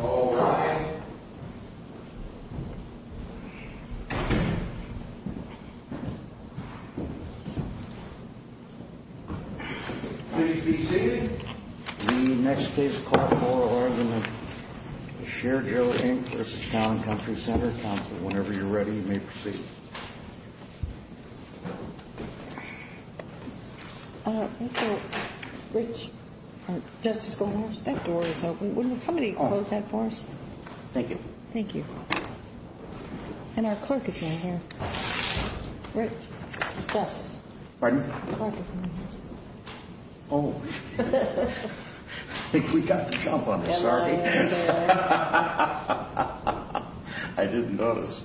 All rise. Please be seated. The next case called for are the Sher-Jo, Inc. v. Town & Country Center Council. Whenever you're ready, you may proceed. Justice Goldberg, that door is open. Will somebody close that for us? Thank you. Thank you. And our clerk is in here.... We can't jump on this, sorry. I didn't notice....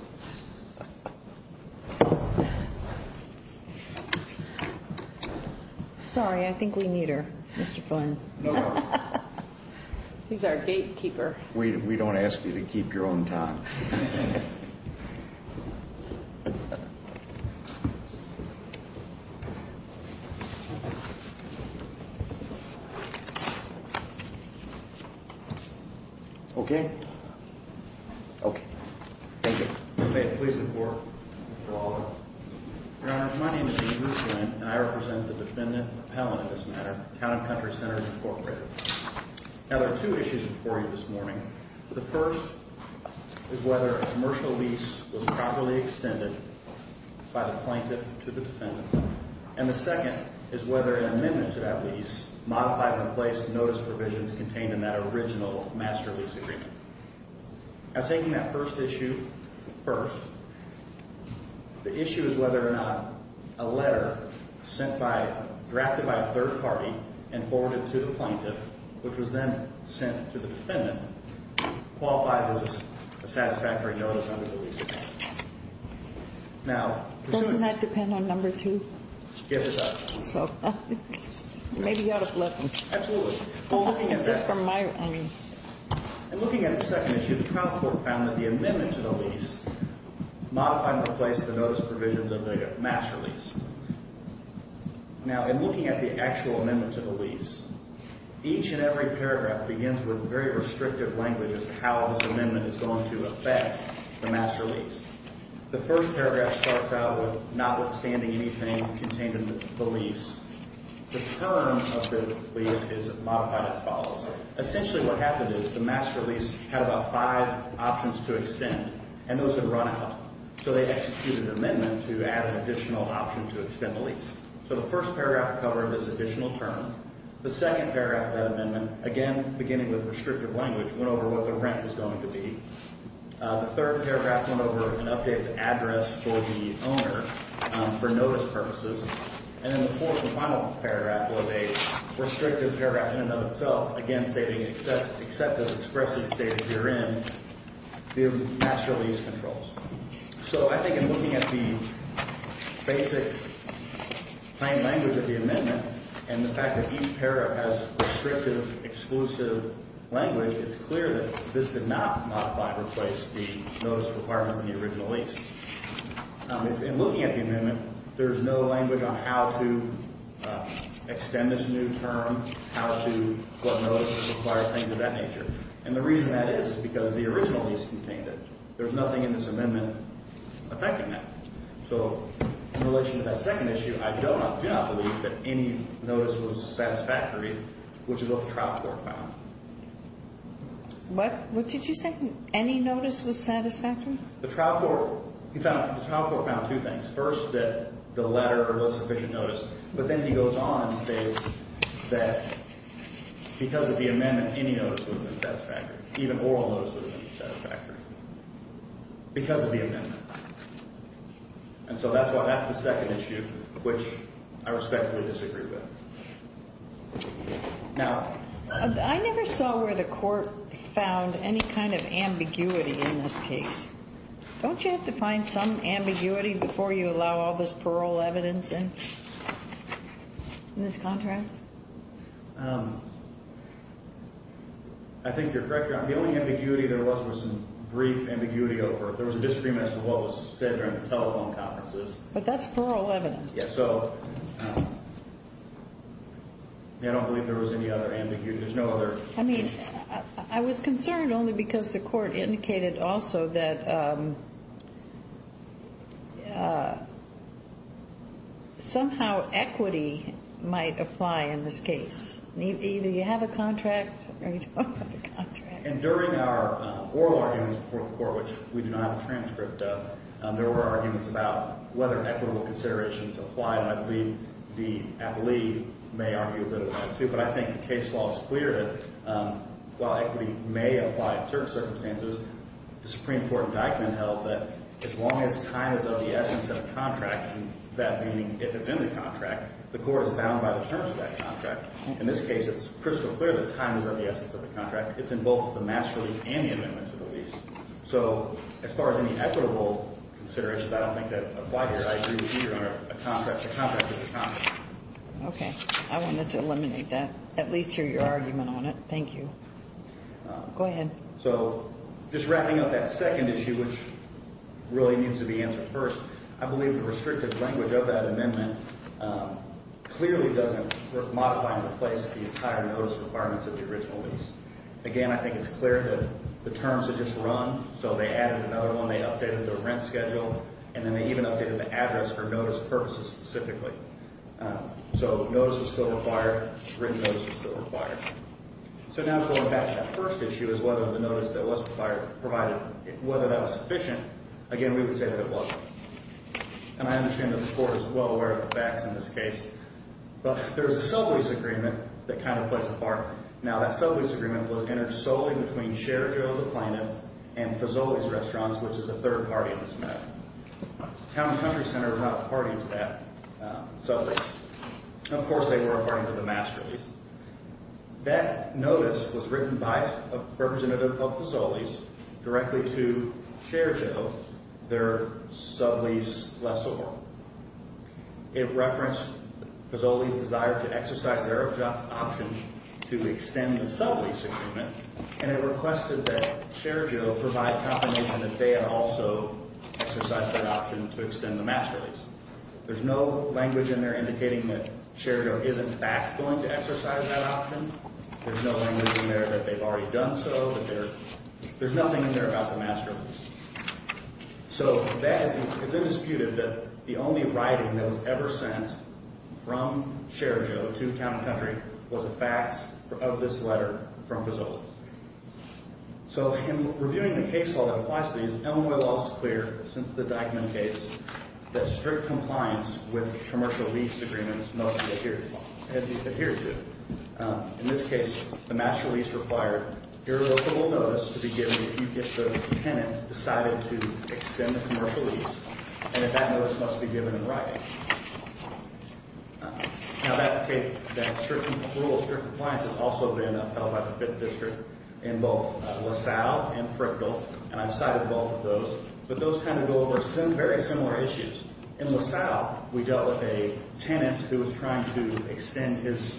Sorry, I think we need her, Mr. Flynn. No problem. He's our gatekeeper. We don't ask you to keep your own time.... Okay? Okay. Thank you. Your faith, please, the court. Your honor, my name is Dean Bruce Flynn, and I represent the defendant, or appellant in this matter, Town and Country Centers, Incorporated. Now, there are two issues before you this morning. The first is whether a commercial lease was properly extended by the plaintiff to the defendant, and the second is whether an amendment to that lease, modified in place notice provisions contained in that original master lease agreement. Now, taking that first issue first, the issue is whether or not a letter drafted by a third party and forwarded to the plaintiff, which was then sent to the defendant, qualifies as a satisfactory notice under the lease agreement. Now, presuming... Doesn't that depend on number two? Yes, it does. Maybe you ought to flip them. Absolutely. Well, looking at this from my... In looking at the second issue, the trial court found that the amendment to the lease modified and replaced the notice provisions of the master lease. Now, in looking at the actual amendment to the lease, each and every paragraph begins with very restrictive language as to how this amendment is going to affect the master lease. The first paragraph starts out with, notwithstanding anything contained in the lease, the term of the lease is modified as follows. Essentially what happened is the master lease had about five options to extend, and those had run out, so they executed an amendment to add an additional option to extend the lease. So the first paragraph covered this additional term. The second paragraph of that amendment, again, beginning with restrictive language, went over what the rent was going to be. The third paragraph went over an updated address for the owner for notice purposes. And then the fourth and final paragraph was a restrictive paragraph in and of itself, again, stating except as expressly stated herein, the master lease controls. So I think in looking at the basic plain language of the amendment and the fact that each paragraph has restrictive, exclusive language, it's clear that this did not modify and replace the notice requirements in the original lease. In looking at the amendment, there's no language on how to extend this new term, how to put notices, require things of that nature. And the reason that is is because the original lease contained it. There's nothing in this amendment affecting that. So in relation to that second issue, I do not believe that any notice was satisfactory, which is what the trial court found. What did you say? Any notice was satisfactory? The trial court found two things. First, that the letter was sufficient notice. But then he goes on and states that because of the amendment, any notice would have been satisfactory. Even oral notice would have been satisfactory because of the amendment. And so that's the second issue which I respectfully disagree with. Now, I never saw where the court found any kind of ambiguity in this case. Don't you have to find some ambiguity before you allow all this parole evidence in this contract? I think you're correct, Your Honor. The only ambiguity there was was some brief ambiguity over it. There was a disagreement as to what was said during the telephone conferences. But that's parole evidence. Yes, so I don't believe there was any other ambiguity. There's no other. I mean, I was concerned only because the court indicated also that somehow equity might apply in this case. Either you have a contract or you don't have a contract. And during our oral arguments before the court, which we do not have a transcript of, there were arguments about whether equitable considerations apply, and I believe the appellee may argue a bit about that too. But I think the case law is clear that while equity may apply in certain circumstances, the Supreme Court in Deichmann held that as long as time is of the essence of the contract, that meaning if it's in the contract, the court is bound by the terms of that contract. In this case, it's crystal clear that time is of the essence of the contract. So as far as any equitable considerations, I don't think that apply here. I agree with you on a contract. A contract is a contract. Okay. I wanted to eliminate that, at least hear your argument on it. Thank you. Go ahead. So just wrapping up that second issue, which really needs to be answered first, I believe the restrictive language of that amendment clearly doesn't modify and replace the entire notice requirements of the original lease. Again, I think it's clear that the terms had just run, so they added another one, they updated the rent schedule, and then they even updated the address for notice purposes specifically. So notice was still required, written notice was still required. So now going back to that first issue is whether the notice that was provided, whether that was sufficient, again, we would say that it wasn't. And I understand that the court is well aware of the facts in this case. But there's a sublease agreement that kind of plays a part. Now, that sublease agreement was inter-solving between Sherjo, the plaintiff, and Fazoli's Restaurants, which is a third party in this matter. Town and Country Center is not a party to that sublease. Of course, they were a party to the master lease. That notice was written by a representative of Fazoli's directly to Sherjo, their sublease lessor. It referenced Fazoli's desire to exercise their option to extend the sublease agreement, and it requested that Sherjo provide confirmation that they had also exercised that option to extend the master lease. There's no language in there indicating that Sherjo is, in fact, going to exercise that option. There's no language in there that they've already done so. There's nothing in there about the master lease. So it's undisputed that the only writing that was ever sent from Sherjo to Town and Country was a fax of this letter from Fazoli. So in reviewing the case law that applies to these, Illinois law is clear, since the Dyckman case, that strict compliance with commercial lease agreements no one adheres to. In this case, the master lease required irrevocable notice to be given if you, as the tenant, decided to extend the commercial lease, and that that notice must be given in writing. Now that strict compliance has also been upheld by the 5th District in both LaSalle and Frickville, and I've cited both of those. But those kind of go over very similar issues. In LaSalle, we dealt with a tenant who was trying to extend his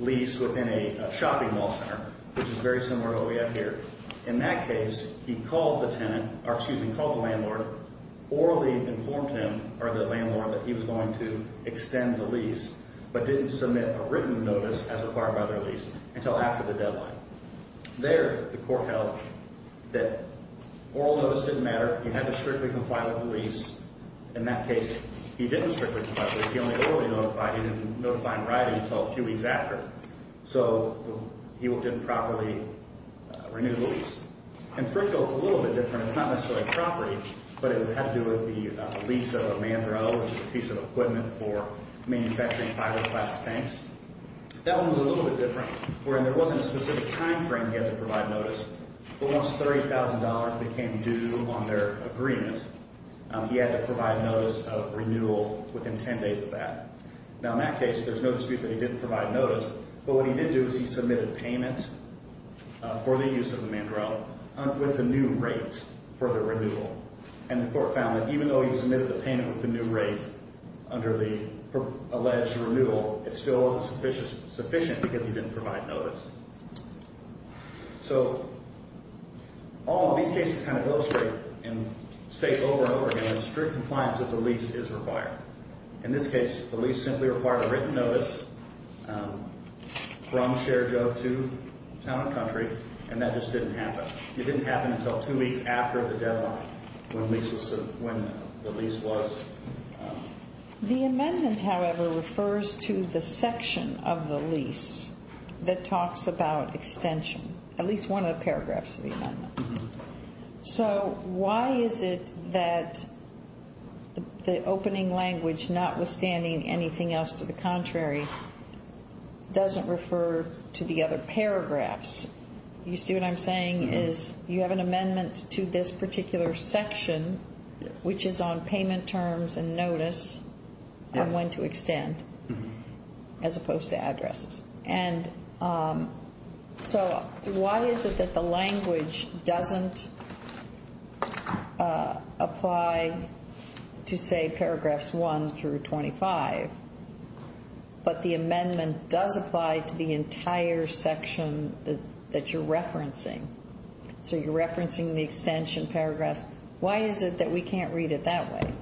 lease within a shopping mall center, which is very similar to what we have here. In that case, he called the tenant, or excuse me, called the landlord, orally informed him, or the landlord, that he was going to extend the lease, but didn't submit a written notice as required by the lease until after the deadline. There, the court held that oral notice didn't matter. He had to strictly comply with the lease. In that case, he didn't strictly comply with the lease. He only orally notified. He didn't notify in writing until a few weeks after. So he didn't properly renew the lease. In Frickville, it's a little bit different. It's not necessarily a property, but it would have to do with the lease of a mangrove, which is a piece of equipment for manufacturing fiberglass tanks. That one was a little bit different, wherein there wasn't a specific time frame he had to provide notice, but once $30,000 became due on their agreement, he had to provide notice of renewal within 10 days of that. Now, in that case, there's no dispute that he didn't provide notice, but what he did do is he submitted payment for the use of the mangrove with a new rate for the renewal. And the court found that even though he submitted the payment with the new rate under the alleged renewal, it still wasn't sufficient because he didn't provide notice. So all of these cases kind of illustrate and state over and over again that strict compliance with the lease is required. In this case, the lease simply required a written notice from ShareJob to Town & Country, and that just didn't happen. It didn't happen until two weeks after the deadline when the lease was. The amendment, however, refers to the section of the lease that talks about extension, So why is it that the opening language, notwithstanding anything else to the contrary, doesn't refer to the other paragraphs? You see what I'm saying is you have an amendment to this particular section, which is on payment terms and notice on when to extend as opposed to addresses. And so why is it that the language doesn't apply to, say, paragraphs 1 through 25, but the amendment does apply to the entire section that you're referencing? So you're referencing the extension paragraphs. Why is it that we can't read it that way?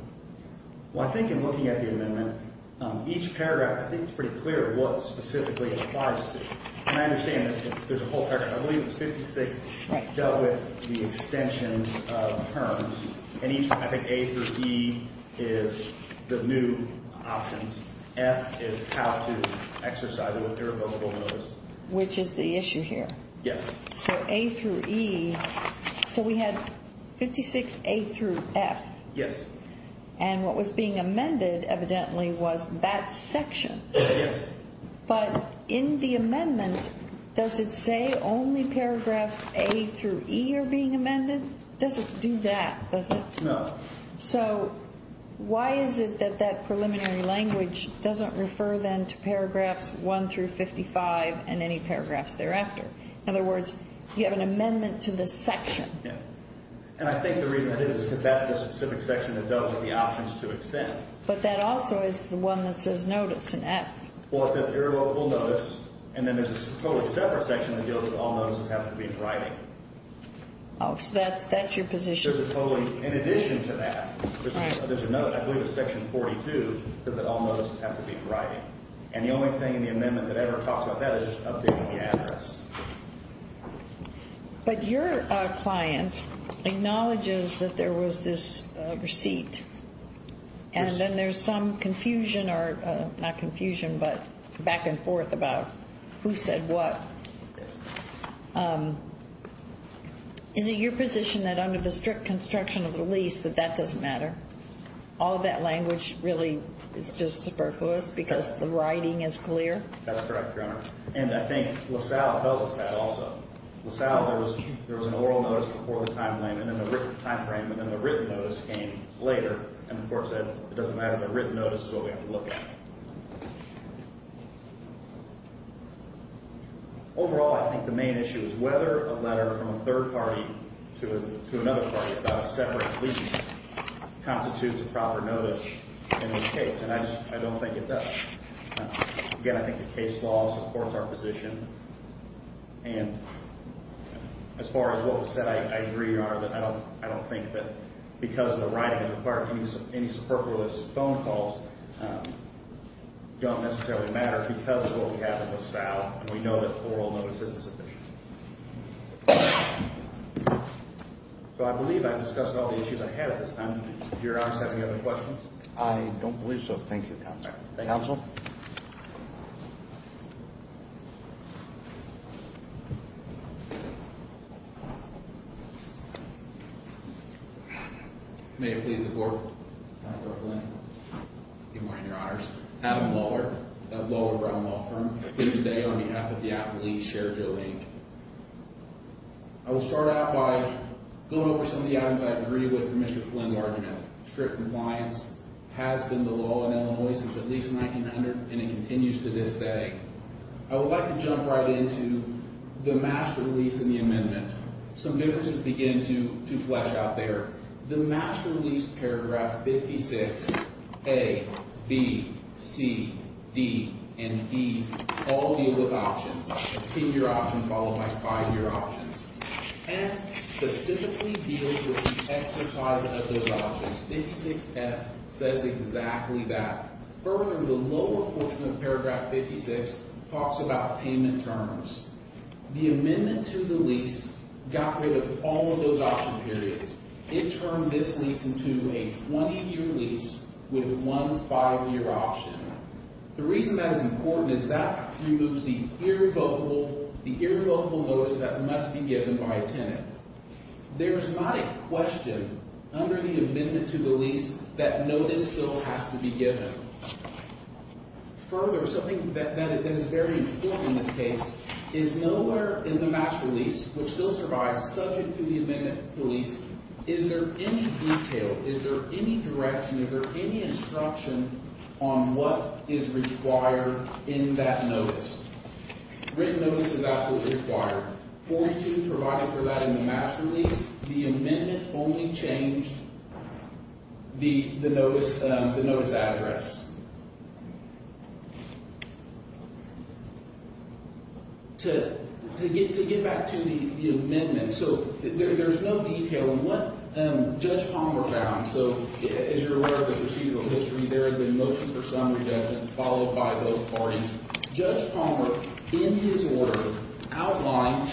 Each paragraph, I think it's pretty clear what specifically it applies to. And I understand that there's a whole paragraph. I believe it's 56 dealt with the extensions of terms. And I think A through E is the new options. F is how to exercise irrevocable notice. Which is the issue here? Yes. So A through E, so we had 56A through F. Yes. And what was being amended evidently was that section. Yes. But in the amendment, does it say only paragraphs A through E are being amended? It doesn't do that, does it? No. So why is it that that preliminary language doesn't refer then to paragraphs 1 through 55 and any paragraphs thereafter? In other words, you have an amendment to this section. Yes. And I think the reason that is is because that's the specific section that dealt with the options to extend. But that also is the one that says notice in F. Well, it says irrevocable notice. And then there's a totally separate section that deals with all notices that have to be in writing. Oh, so that's your position? There's a totally, in addition to that, there's another, I believe it's section 42, that all notices have to be in writing. And the only thing in the amendment that ever talks about that is updating the address. But your client acknowledges that there was this receipt, and then there's some confusion or, not confusion, but back and forth about who said what. Yes. Is it your position that under the strict construction of the lease that that doesn't matter? All of that language really is just superfluous because the writing is clear? That's correct, Your Honor. And I think LaSalle tells us that also. LaSalle, there was an oral notice before the time frame, and then the written notice came later. And the court said it doesn't matter. The written notice is what we have to look at. Overall, I think the main issue is whether a letter from a third party to another party about a separate lease constitutes a proper notice in this case. And I don't think it does. Again, I think the case law supports our position. And as far as what was said, I agree, Your Honor, that I don't think that because the writing is required, any superfluous phone calls don't necessarily matter because of what we have in LaSalle. And we know that oral notice isn't sufficient. So I believe I've discussed all the issues I had at this time. Do your honors have any other questions? I don't believe so. Thank you, Counsel. Thank you, Counsel. May it please the Court. Good morning, Your Honors. Adam Lohler, of Lohler Brown Law Firm, here today on behalf of the Appellee's Shared Domain. I will start out by going over some of the items I agree with Mr. Flynn's argument. Strict compliance has been the law in Illinois since at least 1900, and it continues to this day. I would like to jump right into the match release and the amendment. Some differences begin to flesh out there. The match release, paragraph 56, A, B, C, D, and E all deal with options. A 10-year option followed by 5-year options. F specifically deals with the exercise of those options. 56F says exactly that. Further, the lower portion of paragraph 56 talks about payment terms. The amendment to the lease got rid of all of those option periods. It turned this lease into a 20-year lease with one 5-year option. The reason that is important is that removes the irrevocable notice that must be given by a tenant. There is not a question under the amendment to the lease that notice still has to be given. Further, something that is very important in this case, is nowhere in the match release, which still survives, subject to the amendment to the lease, is there any detail, is there any direction, is there any instruction on what is required in that notice? Written notice is absolutely required. 42 provided for that in the match release, the amendment only changed the notice address. To get back to the amendment, there is no detail on what Judge Palmer found. As you are aware of the procedural history, there have been motions for some adjustments followed by those parties. Judge Palmer, in his word, outlined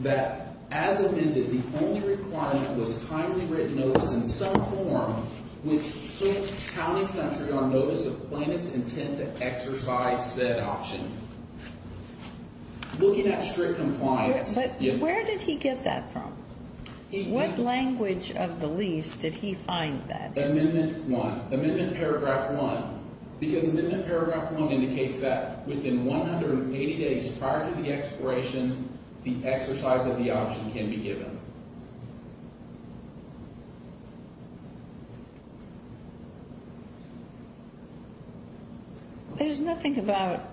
that as amended, the only requirement was timely written notice in some form, which took county country on notice of plaintiff's intent to exercise said option. Looking at strict compliance... But where did he get that from? What language of the lease did he find that in? Amendment paragraph one, because amendment paragraph one indicates that within 180 days prior to the expiration, the exercise of the option can be given. There's nothing about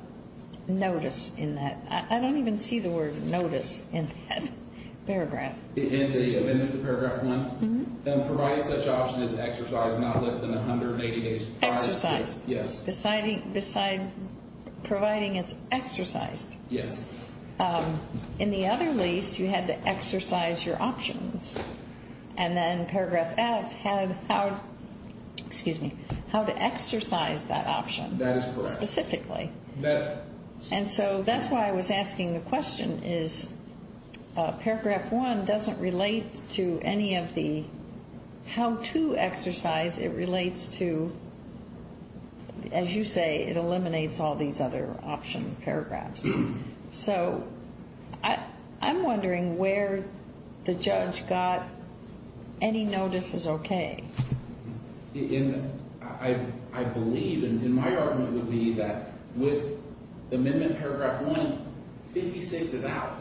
notice in that. I don't even see the word notice in that paragraph. In the amendment to paragraph one, providing such option is exercised not less than 180 days prior... Exercised. Yes. Providing it's exercised. Yes. In the other lease, you had to exercise your options. And then paragraph F had how to exercise that option. That is correct. Specifically. And so that's why I was asking the question is paragraph one doesn't relate to any of the how to exercise. It relates to, as you say, it eliminates all these other option paragraphs. So I'm wondering where the judge got any notices okay. I believe, and my argument would be that with amendment paragraph one, 56 is out.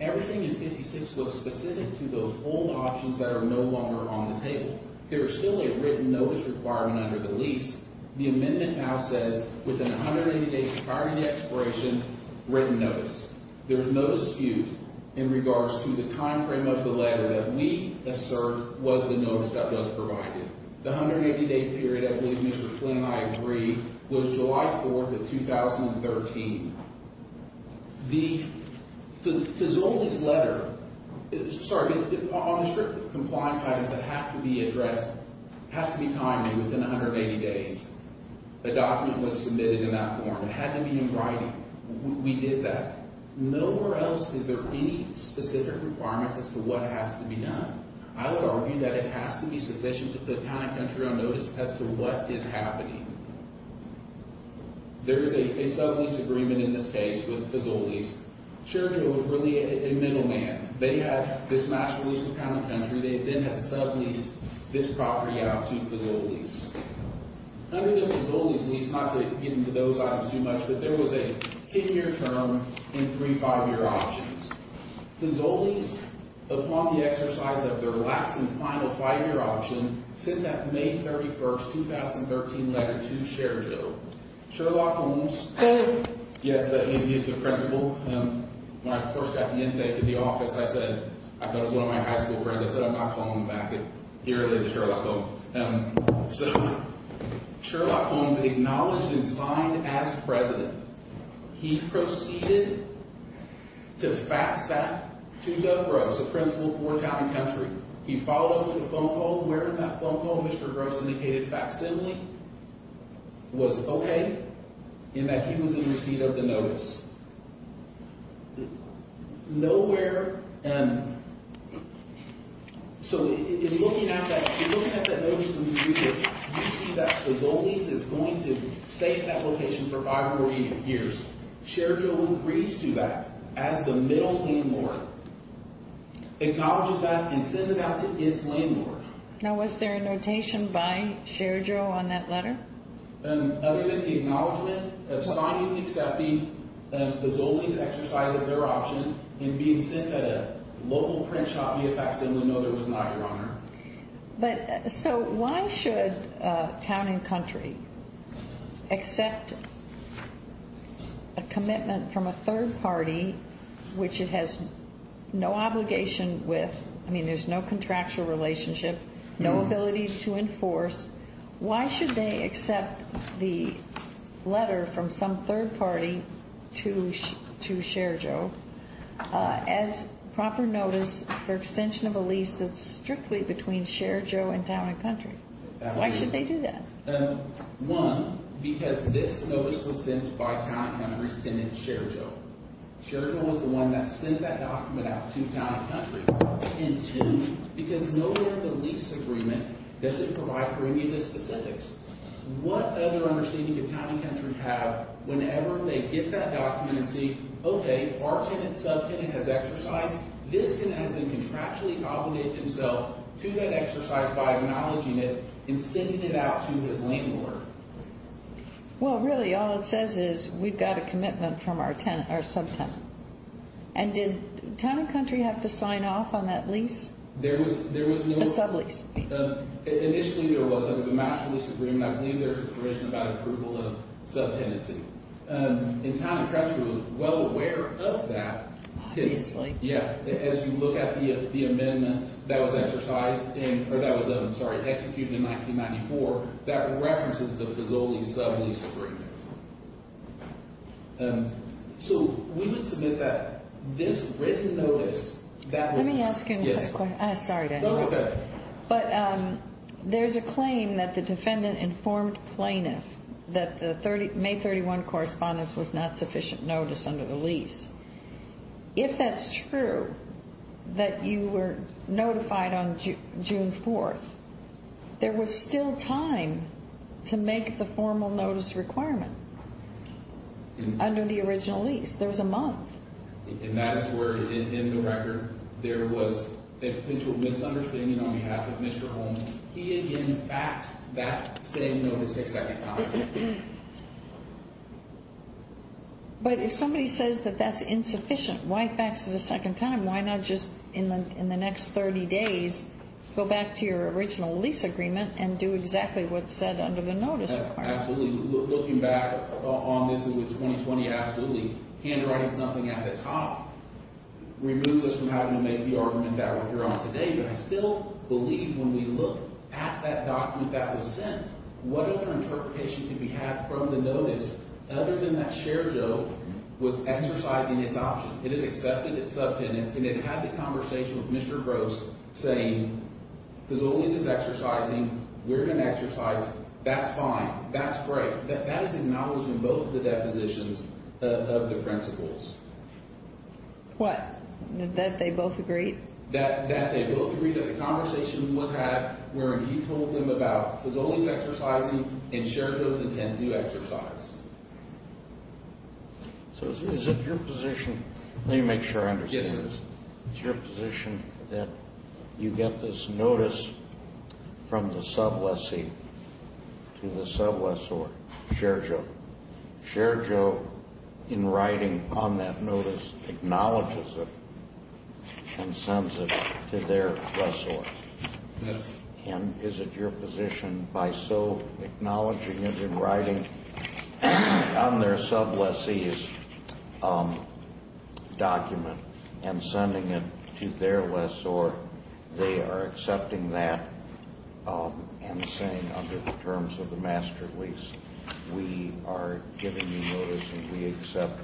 Everything in 56 was specific to those old options that are no longer on the table. There is still a written notice requirement under the lease. The amendment now says within 180 days prior to the expiration, written notice. There's no dispute in regards to the time frame of the letter that we assert was the notice that was provided. The 180 day period, I believe Mr. Flynn and I agree, was July 4th of 2013. The Fizzoli's letter, sorry, on the strict compliance items that have to be addressed, has to be timely within 180 days. The document was submitted in that form. It had to be in writing. We did that. Nowhere else is there any specific requirements as to what has to be done. I would argue that it has to be sufficient to put Town and Country on notice as to what is happening. There is a sub-lease agreement in this case with Fizzoli's. Churchill was really a middle man. They had this last lease with Town and Country. They then had sub-leased this property out to Fizzoli's. Under the Fizzoli's lease, not to get into those items too much, but there was a 10-year term and three 5-year options. Fizzoli's, upon the exercise of their last and final 5-year option, sent that May 31st, 2013 letter to Churchill. Sherlock Holmes, yes, he is the principal. When I first got the intake of the office, I said, I thought it was one of my high school friends, I said I'm not calling him back. Here it is, it's Sherlock Holmes. So, Sherlock Holmes acknowledged and signed as president. He proceeded to fax that to Doug Gross, the principal for Town and Country. He followed up with a phone call. Where in that phone call did Mr. Gross indicate a facsimile was okay in that he was in receipt of the notice? Nowhere, so in looking at that notice from the reader, you see that Fizzoli's is going to stay at that location for 5 or 8 years. Churchill agrees to that as the middle landlord. Acknowledges that and sends it out to its landlord. Now was there a notation by Churchill on that letter? Other than the acknowledgement of signing and accepting, Fizzoli's exercised their option and being sent a local print shop VFX, no there was not, Your Honor. But, so why should Town and Country accept a commitment from a third party which it has no obligation with? I mean, there's no contractual relationship, no ability to enforce. Why should they accept the letter from some third party to Sherjo as proper notice for extension of a lease that's strictly between Sherjo and Town and Country? Why should they do that? One, because this notice was sent by Town and Country's tenant, Sherjo. Sherjo was the one that sent that document out to Town and Country. And two, because no where in the lease agreement does it provide for any of the specifics. What other understanding did Town and Country have whenever they get that document and see, okay, our tenant, sub-tenant has exercised. This tenant has then contractually obligated himself to that exercise by acknowledging it and sending it out to his landlord. Well, really all it says is we've got a commitment from our sub-tenant. And did Town and Country have to sign off on that lease? There was no. A sublease. Initially there was a match lease agreement. I believe there's information about approval of sub-tenancy. And Town and Country was well aware of that. Obviously. Yeah. As you look at the amendment that was exercised in, or that was, I'm sorry, executed in 1994, that references the Fazoli sub-lease agreement. So we would submit that this written notice that was. Let me ask you a question. Yes. Sorry to interrupt. That's okay. But there's a claim that the defendant informed plaintiff that the May 31 correspondence was not sufficient notice under the lease. If that's true, that you were notified on June 4th, there was still time to make the formal notice requirement under the original lease. There was a month. And that is where, in the record, there was a potential misunderstanding on behalf of Mr. Holmes. He, in fact, that same notice a second time. But if somebody says that that's insufficient, why fax it a second time? Why not just, in the next 30 days, go back to your original lease agreement and do exactly what's said under the notice requirement? Absolutely. Looking back on this with 2020, absolutely. Handwriting something at the top removes us from having to make the argument that we're here on today. But I still believe when we look at that document that was sent, what other interpretation could we have from the notice other than that Sherjo was exercising its option? It had accepted its subtenance, and it had the conversation with Mr. Gross saying, because the lease is exercising, we're going to exercise. That's fine. That's great. That is acknowledging both of the depositions of the principles. What? That they both agreed? That they both agreed that the conversation was had wherein he told them about Fusoli's exercising and Sherjo's intent to exercise. So is it your position? Let me make sure I understand this. Yes, sir. Is it your position that you get this notice from the sub lessee to the sub lessor, Sherjo? Sherjo, in writing on that notice, acknowledges it and sends it to their lessor. Yes. And is it your position by so acknowledging it in writing on their sub lessee's document and sending it to their lessor, they are accepting that and saying, under the terms of the master lease, we are giving you notice and we accept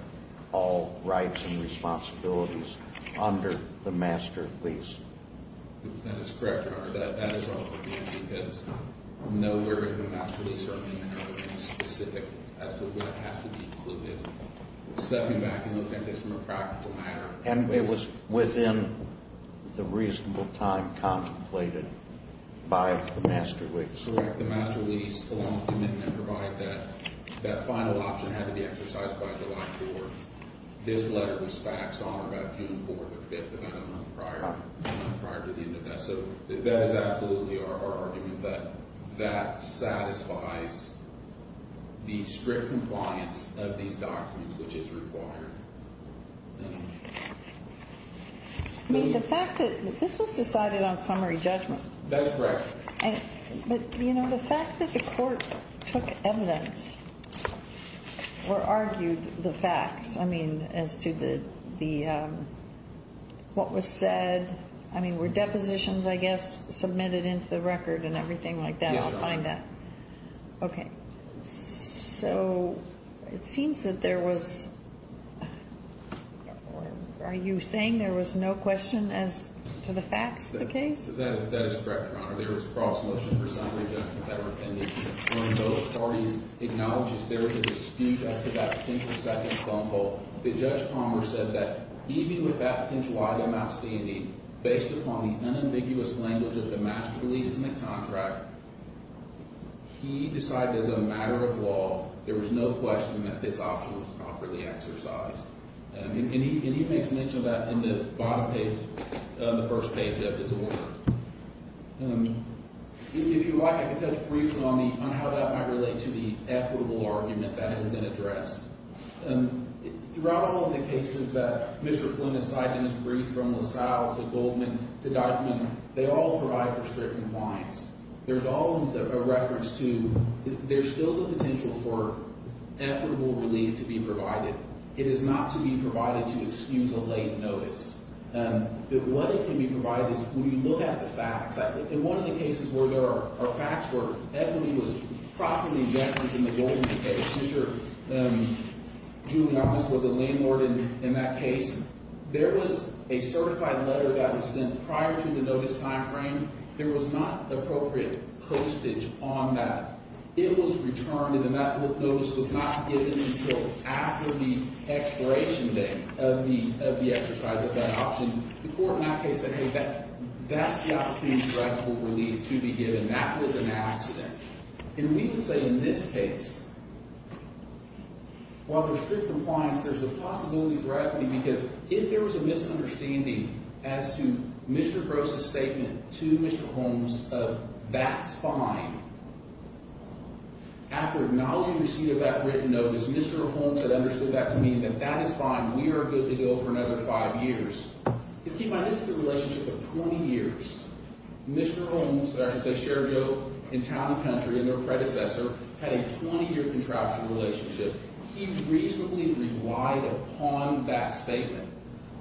all rights and responsibilities under the master lease? That is correct, Your Honor. That is our opinion, because nowhere in the master lease are any other things specific as to what has to be included. Stepping back and looking at this from a practical matter. And it was within the reasonable time contemplated by the master lease. Correct. The master lease, along with the commitment to provide that, that final option had to be exercised by July 4th. This letter was faxed on about June 4th or 5th, about a month prior, a month prior to the end of that. So that is absolutely our argument, that that satisfies the strict compliance of these documents, which is required. I mean, the fact that this was decided on summary judgment. That's correct. But, you know, the fact that the court took evidence or argued the facts, I mean, as to what was said, I mean, were depositions, I guess, submitted into the record and everything like that? Yes, Your Honor. Okay. So it seems that there was, are you saying there was no question as to the facts of the case? That is correct, Your Honor. There was cross-motion for summary judgment that were appended. One of those parties acknowledges there is a dispute as to that potential second thumbnail. The Judge Palmer said that even with that potential item outstanding, based upon the unambiguous language of the master lease and the contract, he decided as a matter of law, there was no question that this option was properly exercised. And he makes mention of that in the bottom page, the first page of his order. If you like, I can touch briefly on the – on how that might relate to the equitable argument that has been addressed. Throughout all of the cases that Mr. Flynn has cited in his brief, from LaSalle to Goldman to Deutman, they all provide for strict compliance. There's always a reference to – there's still the potential for equitable relief to be provided. It is not to be provided to excuse a late notice. What it can be provided is when you look at the facts. In one of the cases where there are facts where equity was properly referenced in the Goldman case, Mr. Giuliani was a landlord in that case. There was a certified letter that was sent prior to the notice timeframe. There was not appropriate postage on that. It was returned, and that notice was not given until after the expiration date of the exercise of that option. The court in that case said, hey, that's the opportunity for equitable relief to be given. That was an accident. And we would say in this case, while there's strict compliance, there's a possibility for equity because if there was a misunderstanding as to Mr. Gross' statement to Mr. Holmes of that's fine, after acknowledging receipt of that written notice, Mr. Holmes had understood that to mean that that is fine. We are good to go for another five years. Just keep in mind this is a relationship of 20 years. Mr. Holmes, that I can say shared in town and country and their predecessor, had a 20-year contractual relationship. He reasonably relied upon that statement.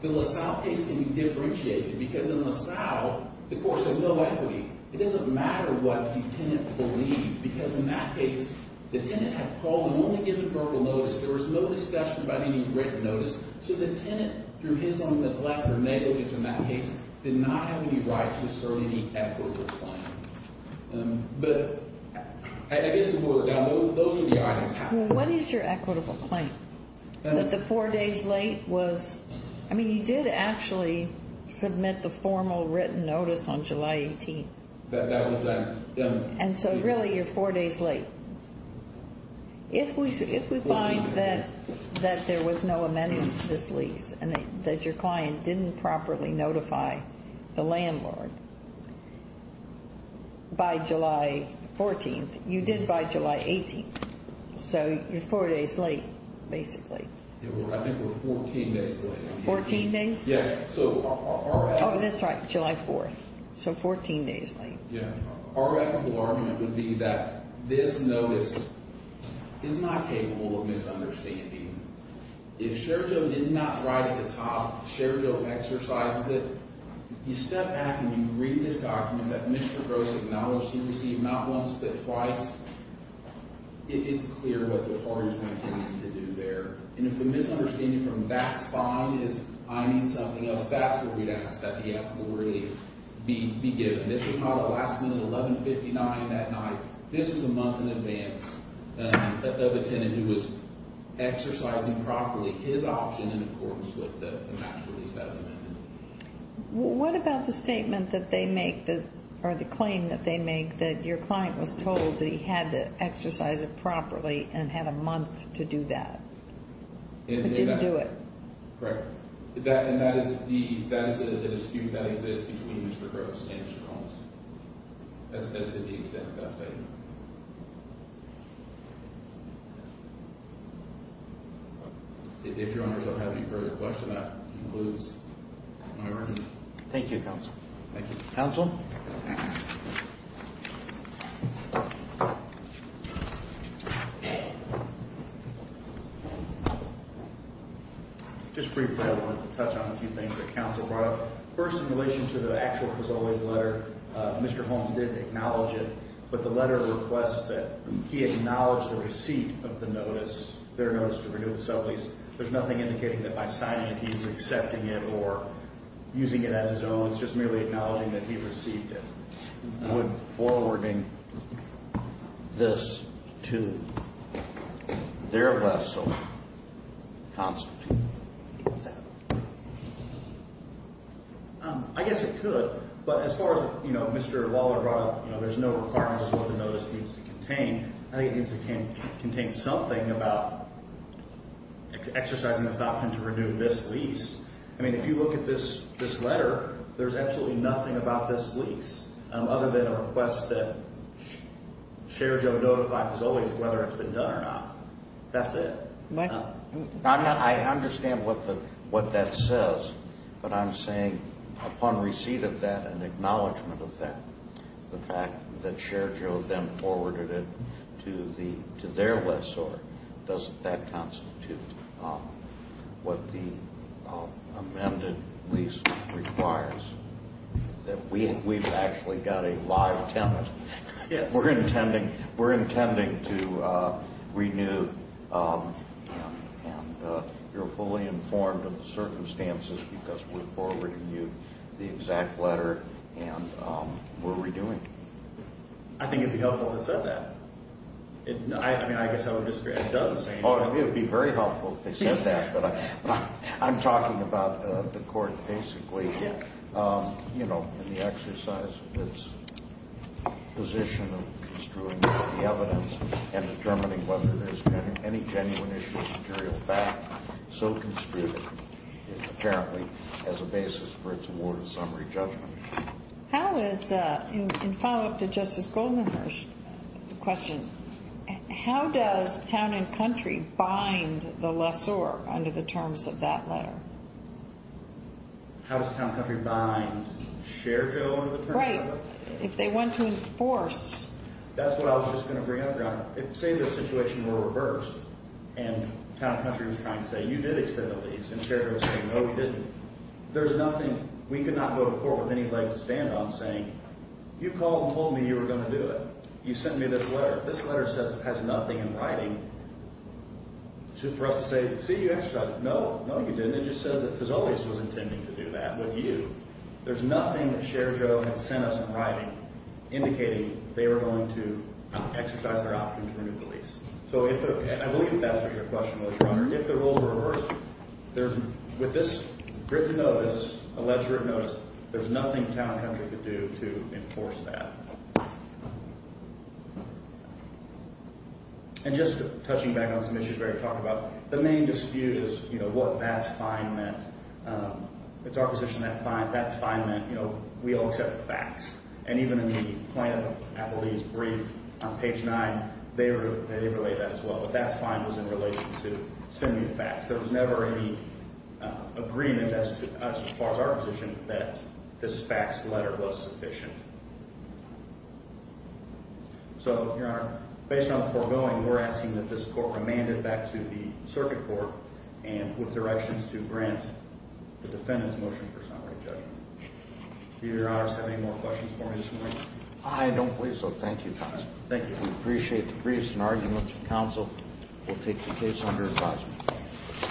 The LaSalle case can be differentiated because in LaSalle, the court said no equity. It doesn't matter what the tenant believed because in that case, the tenant had called and only given verbal notice. There was no discussion about any written notice. So the tenant, through his own neglect or negligence in that case, did not have any right to assert any equitable claim. But I guess to boil it down, those are the items. What is your equitable claim? That the four days late was, I mean, you did actually submit the formal written notice on July 18th. That was that. And so really, you're four days late. If we find that there was no amendment to this lease and that your client didn't properly notify the landlord by July 14th, you did by July 18th. So you're four days late, basically. I think we're 14 days late. Fourteen days? Yeah. Oh, that's right, July 4th. So 14 days late. Yeah. Our equitable argument would be that this notice is not capable of misunderstanding. If Sherjo did not write at the top, Sherjo exercises it, you step back and you read this document that Mr. Gross acknowledged he received not once but twice, it's clear what the party is going to continue to do there. And if the misunderstanding from that spine is I need something else, that's where we'd ask that the equitable relief be given. This was not a last minute 1159 that night. This was a month in advance of a tenant who was exercising properly his option in accordance with the match release as amended. What about the statement that they make or the claim that they make that your client was told that he had to exercise it properly and had a month to do that? But didn't do it. Correct. And that is the dispute that exists between Mr. Gross and Mr. Holmes. That's to the extent that I say. If your honors don't have any further questions, that concludes my argument. Thank you, counsel. Thank you. Counsel? Thank you. Just briefly, I wanted to touch on a few things that counsel brought up first in relation to the actual was always letter. Mr. Holmes didn't acknowledge it, but the letter requests that he acknowledged the receipt of the notice. There's nothing indicating that by signing it, he's accepting it or using it as his own. It's just merely acknowledging that he received it. Forwarding this to their vessel. I guess it could. But as far as, you know, Mr. Waller brought up, you know, there's no requirement for the notice needs to contain. I think it needs to contain something about exercising this option to renew this lease. I mean, if you look at this letter, there's absolutely nothing about this lease other than a request that Sherjo notified, as always, whether it's been done or not. That's it. I understand what that says, but I'm saying upon receipt of that and acknowledgement of that, the fact that Sherjo then forwarded it to their lessor, doesn't that constitute what the amended lease requires? That we've actually got a live tenant. We're intending to renew and you're fully informed of the circumstances because we're forwarding you the exact letter and we're renewing. I think it would be helpful if it said that. I mean, I guess I would disagree. It doesn't say anything. Oh, it would be very helpful if they said that. I'm talking about the court basically, you know, in the exercise of its position of construing the evidence and determining whether there's been any genuine issue of material fact. So construed, apparently, as a basis for its award of summary judgment. How is, in follow-up to Justice Goldmanhurst's question, how does town and country bind the lessor under the terms of that letter? How does town and country bind Sherjo under the terms of that letter? Right. If they want to enforce. That's what I was just going to bring up. Say the situation were reversed and town and country was trying to say, you did accept the lease, and Sherjo was saying, no, we didn't. There's nothing. We could not go to court with anybody to stand on saying, you called and told me you were going to do it. You sent me this letter. This letter says it has nothing in writing for us to say, see, you exercised it. No, no, you didn't. It just says that Fazolius was intending to do that with you. There's nothing that Sherjo had sent us in writing indicating they were going to exercise their option to renew the lease. So I believe that's what your question was, Your Honor. If the rules were reversed, with this written notice, alleged written notice, there's nothing town and country could do to enforce that. And just touching back on some issues we already talked about, the main dispute is, you know, what that's fine meant. It's our position that that's fine meant, you know, we all accept facts. And even in the plaintiff appellee's brief on page 9, they relate that as well. But that's fine was in relation to sending a fax. There was never any agreement as far as our position that this fax letter was sufficient. So, Your Honor, based on the foregoing, we're asking that this court remand it back to the circuit court with directions to grant the defendant's motion for summary judgment. Do Your Honors have any more questions for me this morning? I don't believe so. Thank you, Counsel. Thank you. We appreciate the briefs and arguments. Counsel will take the case under advisement.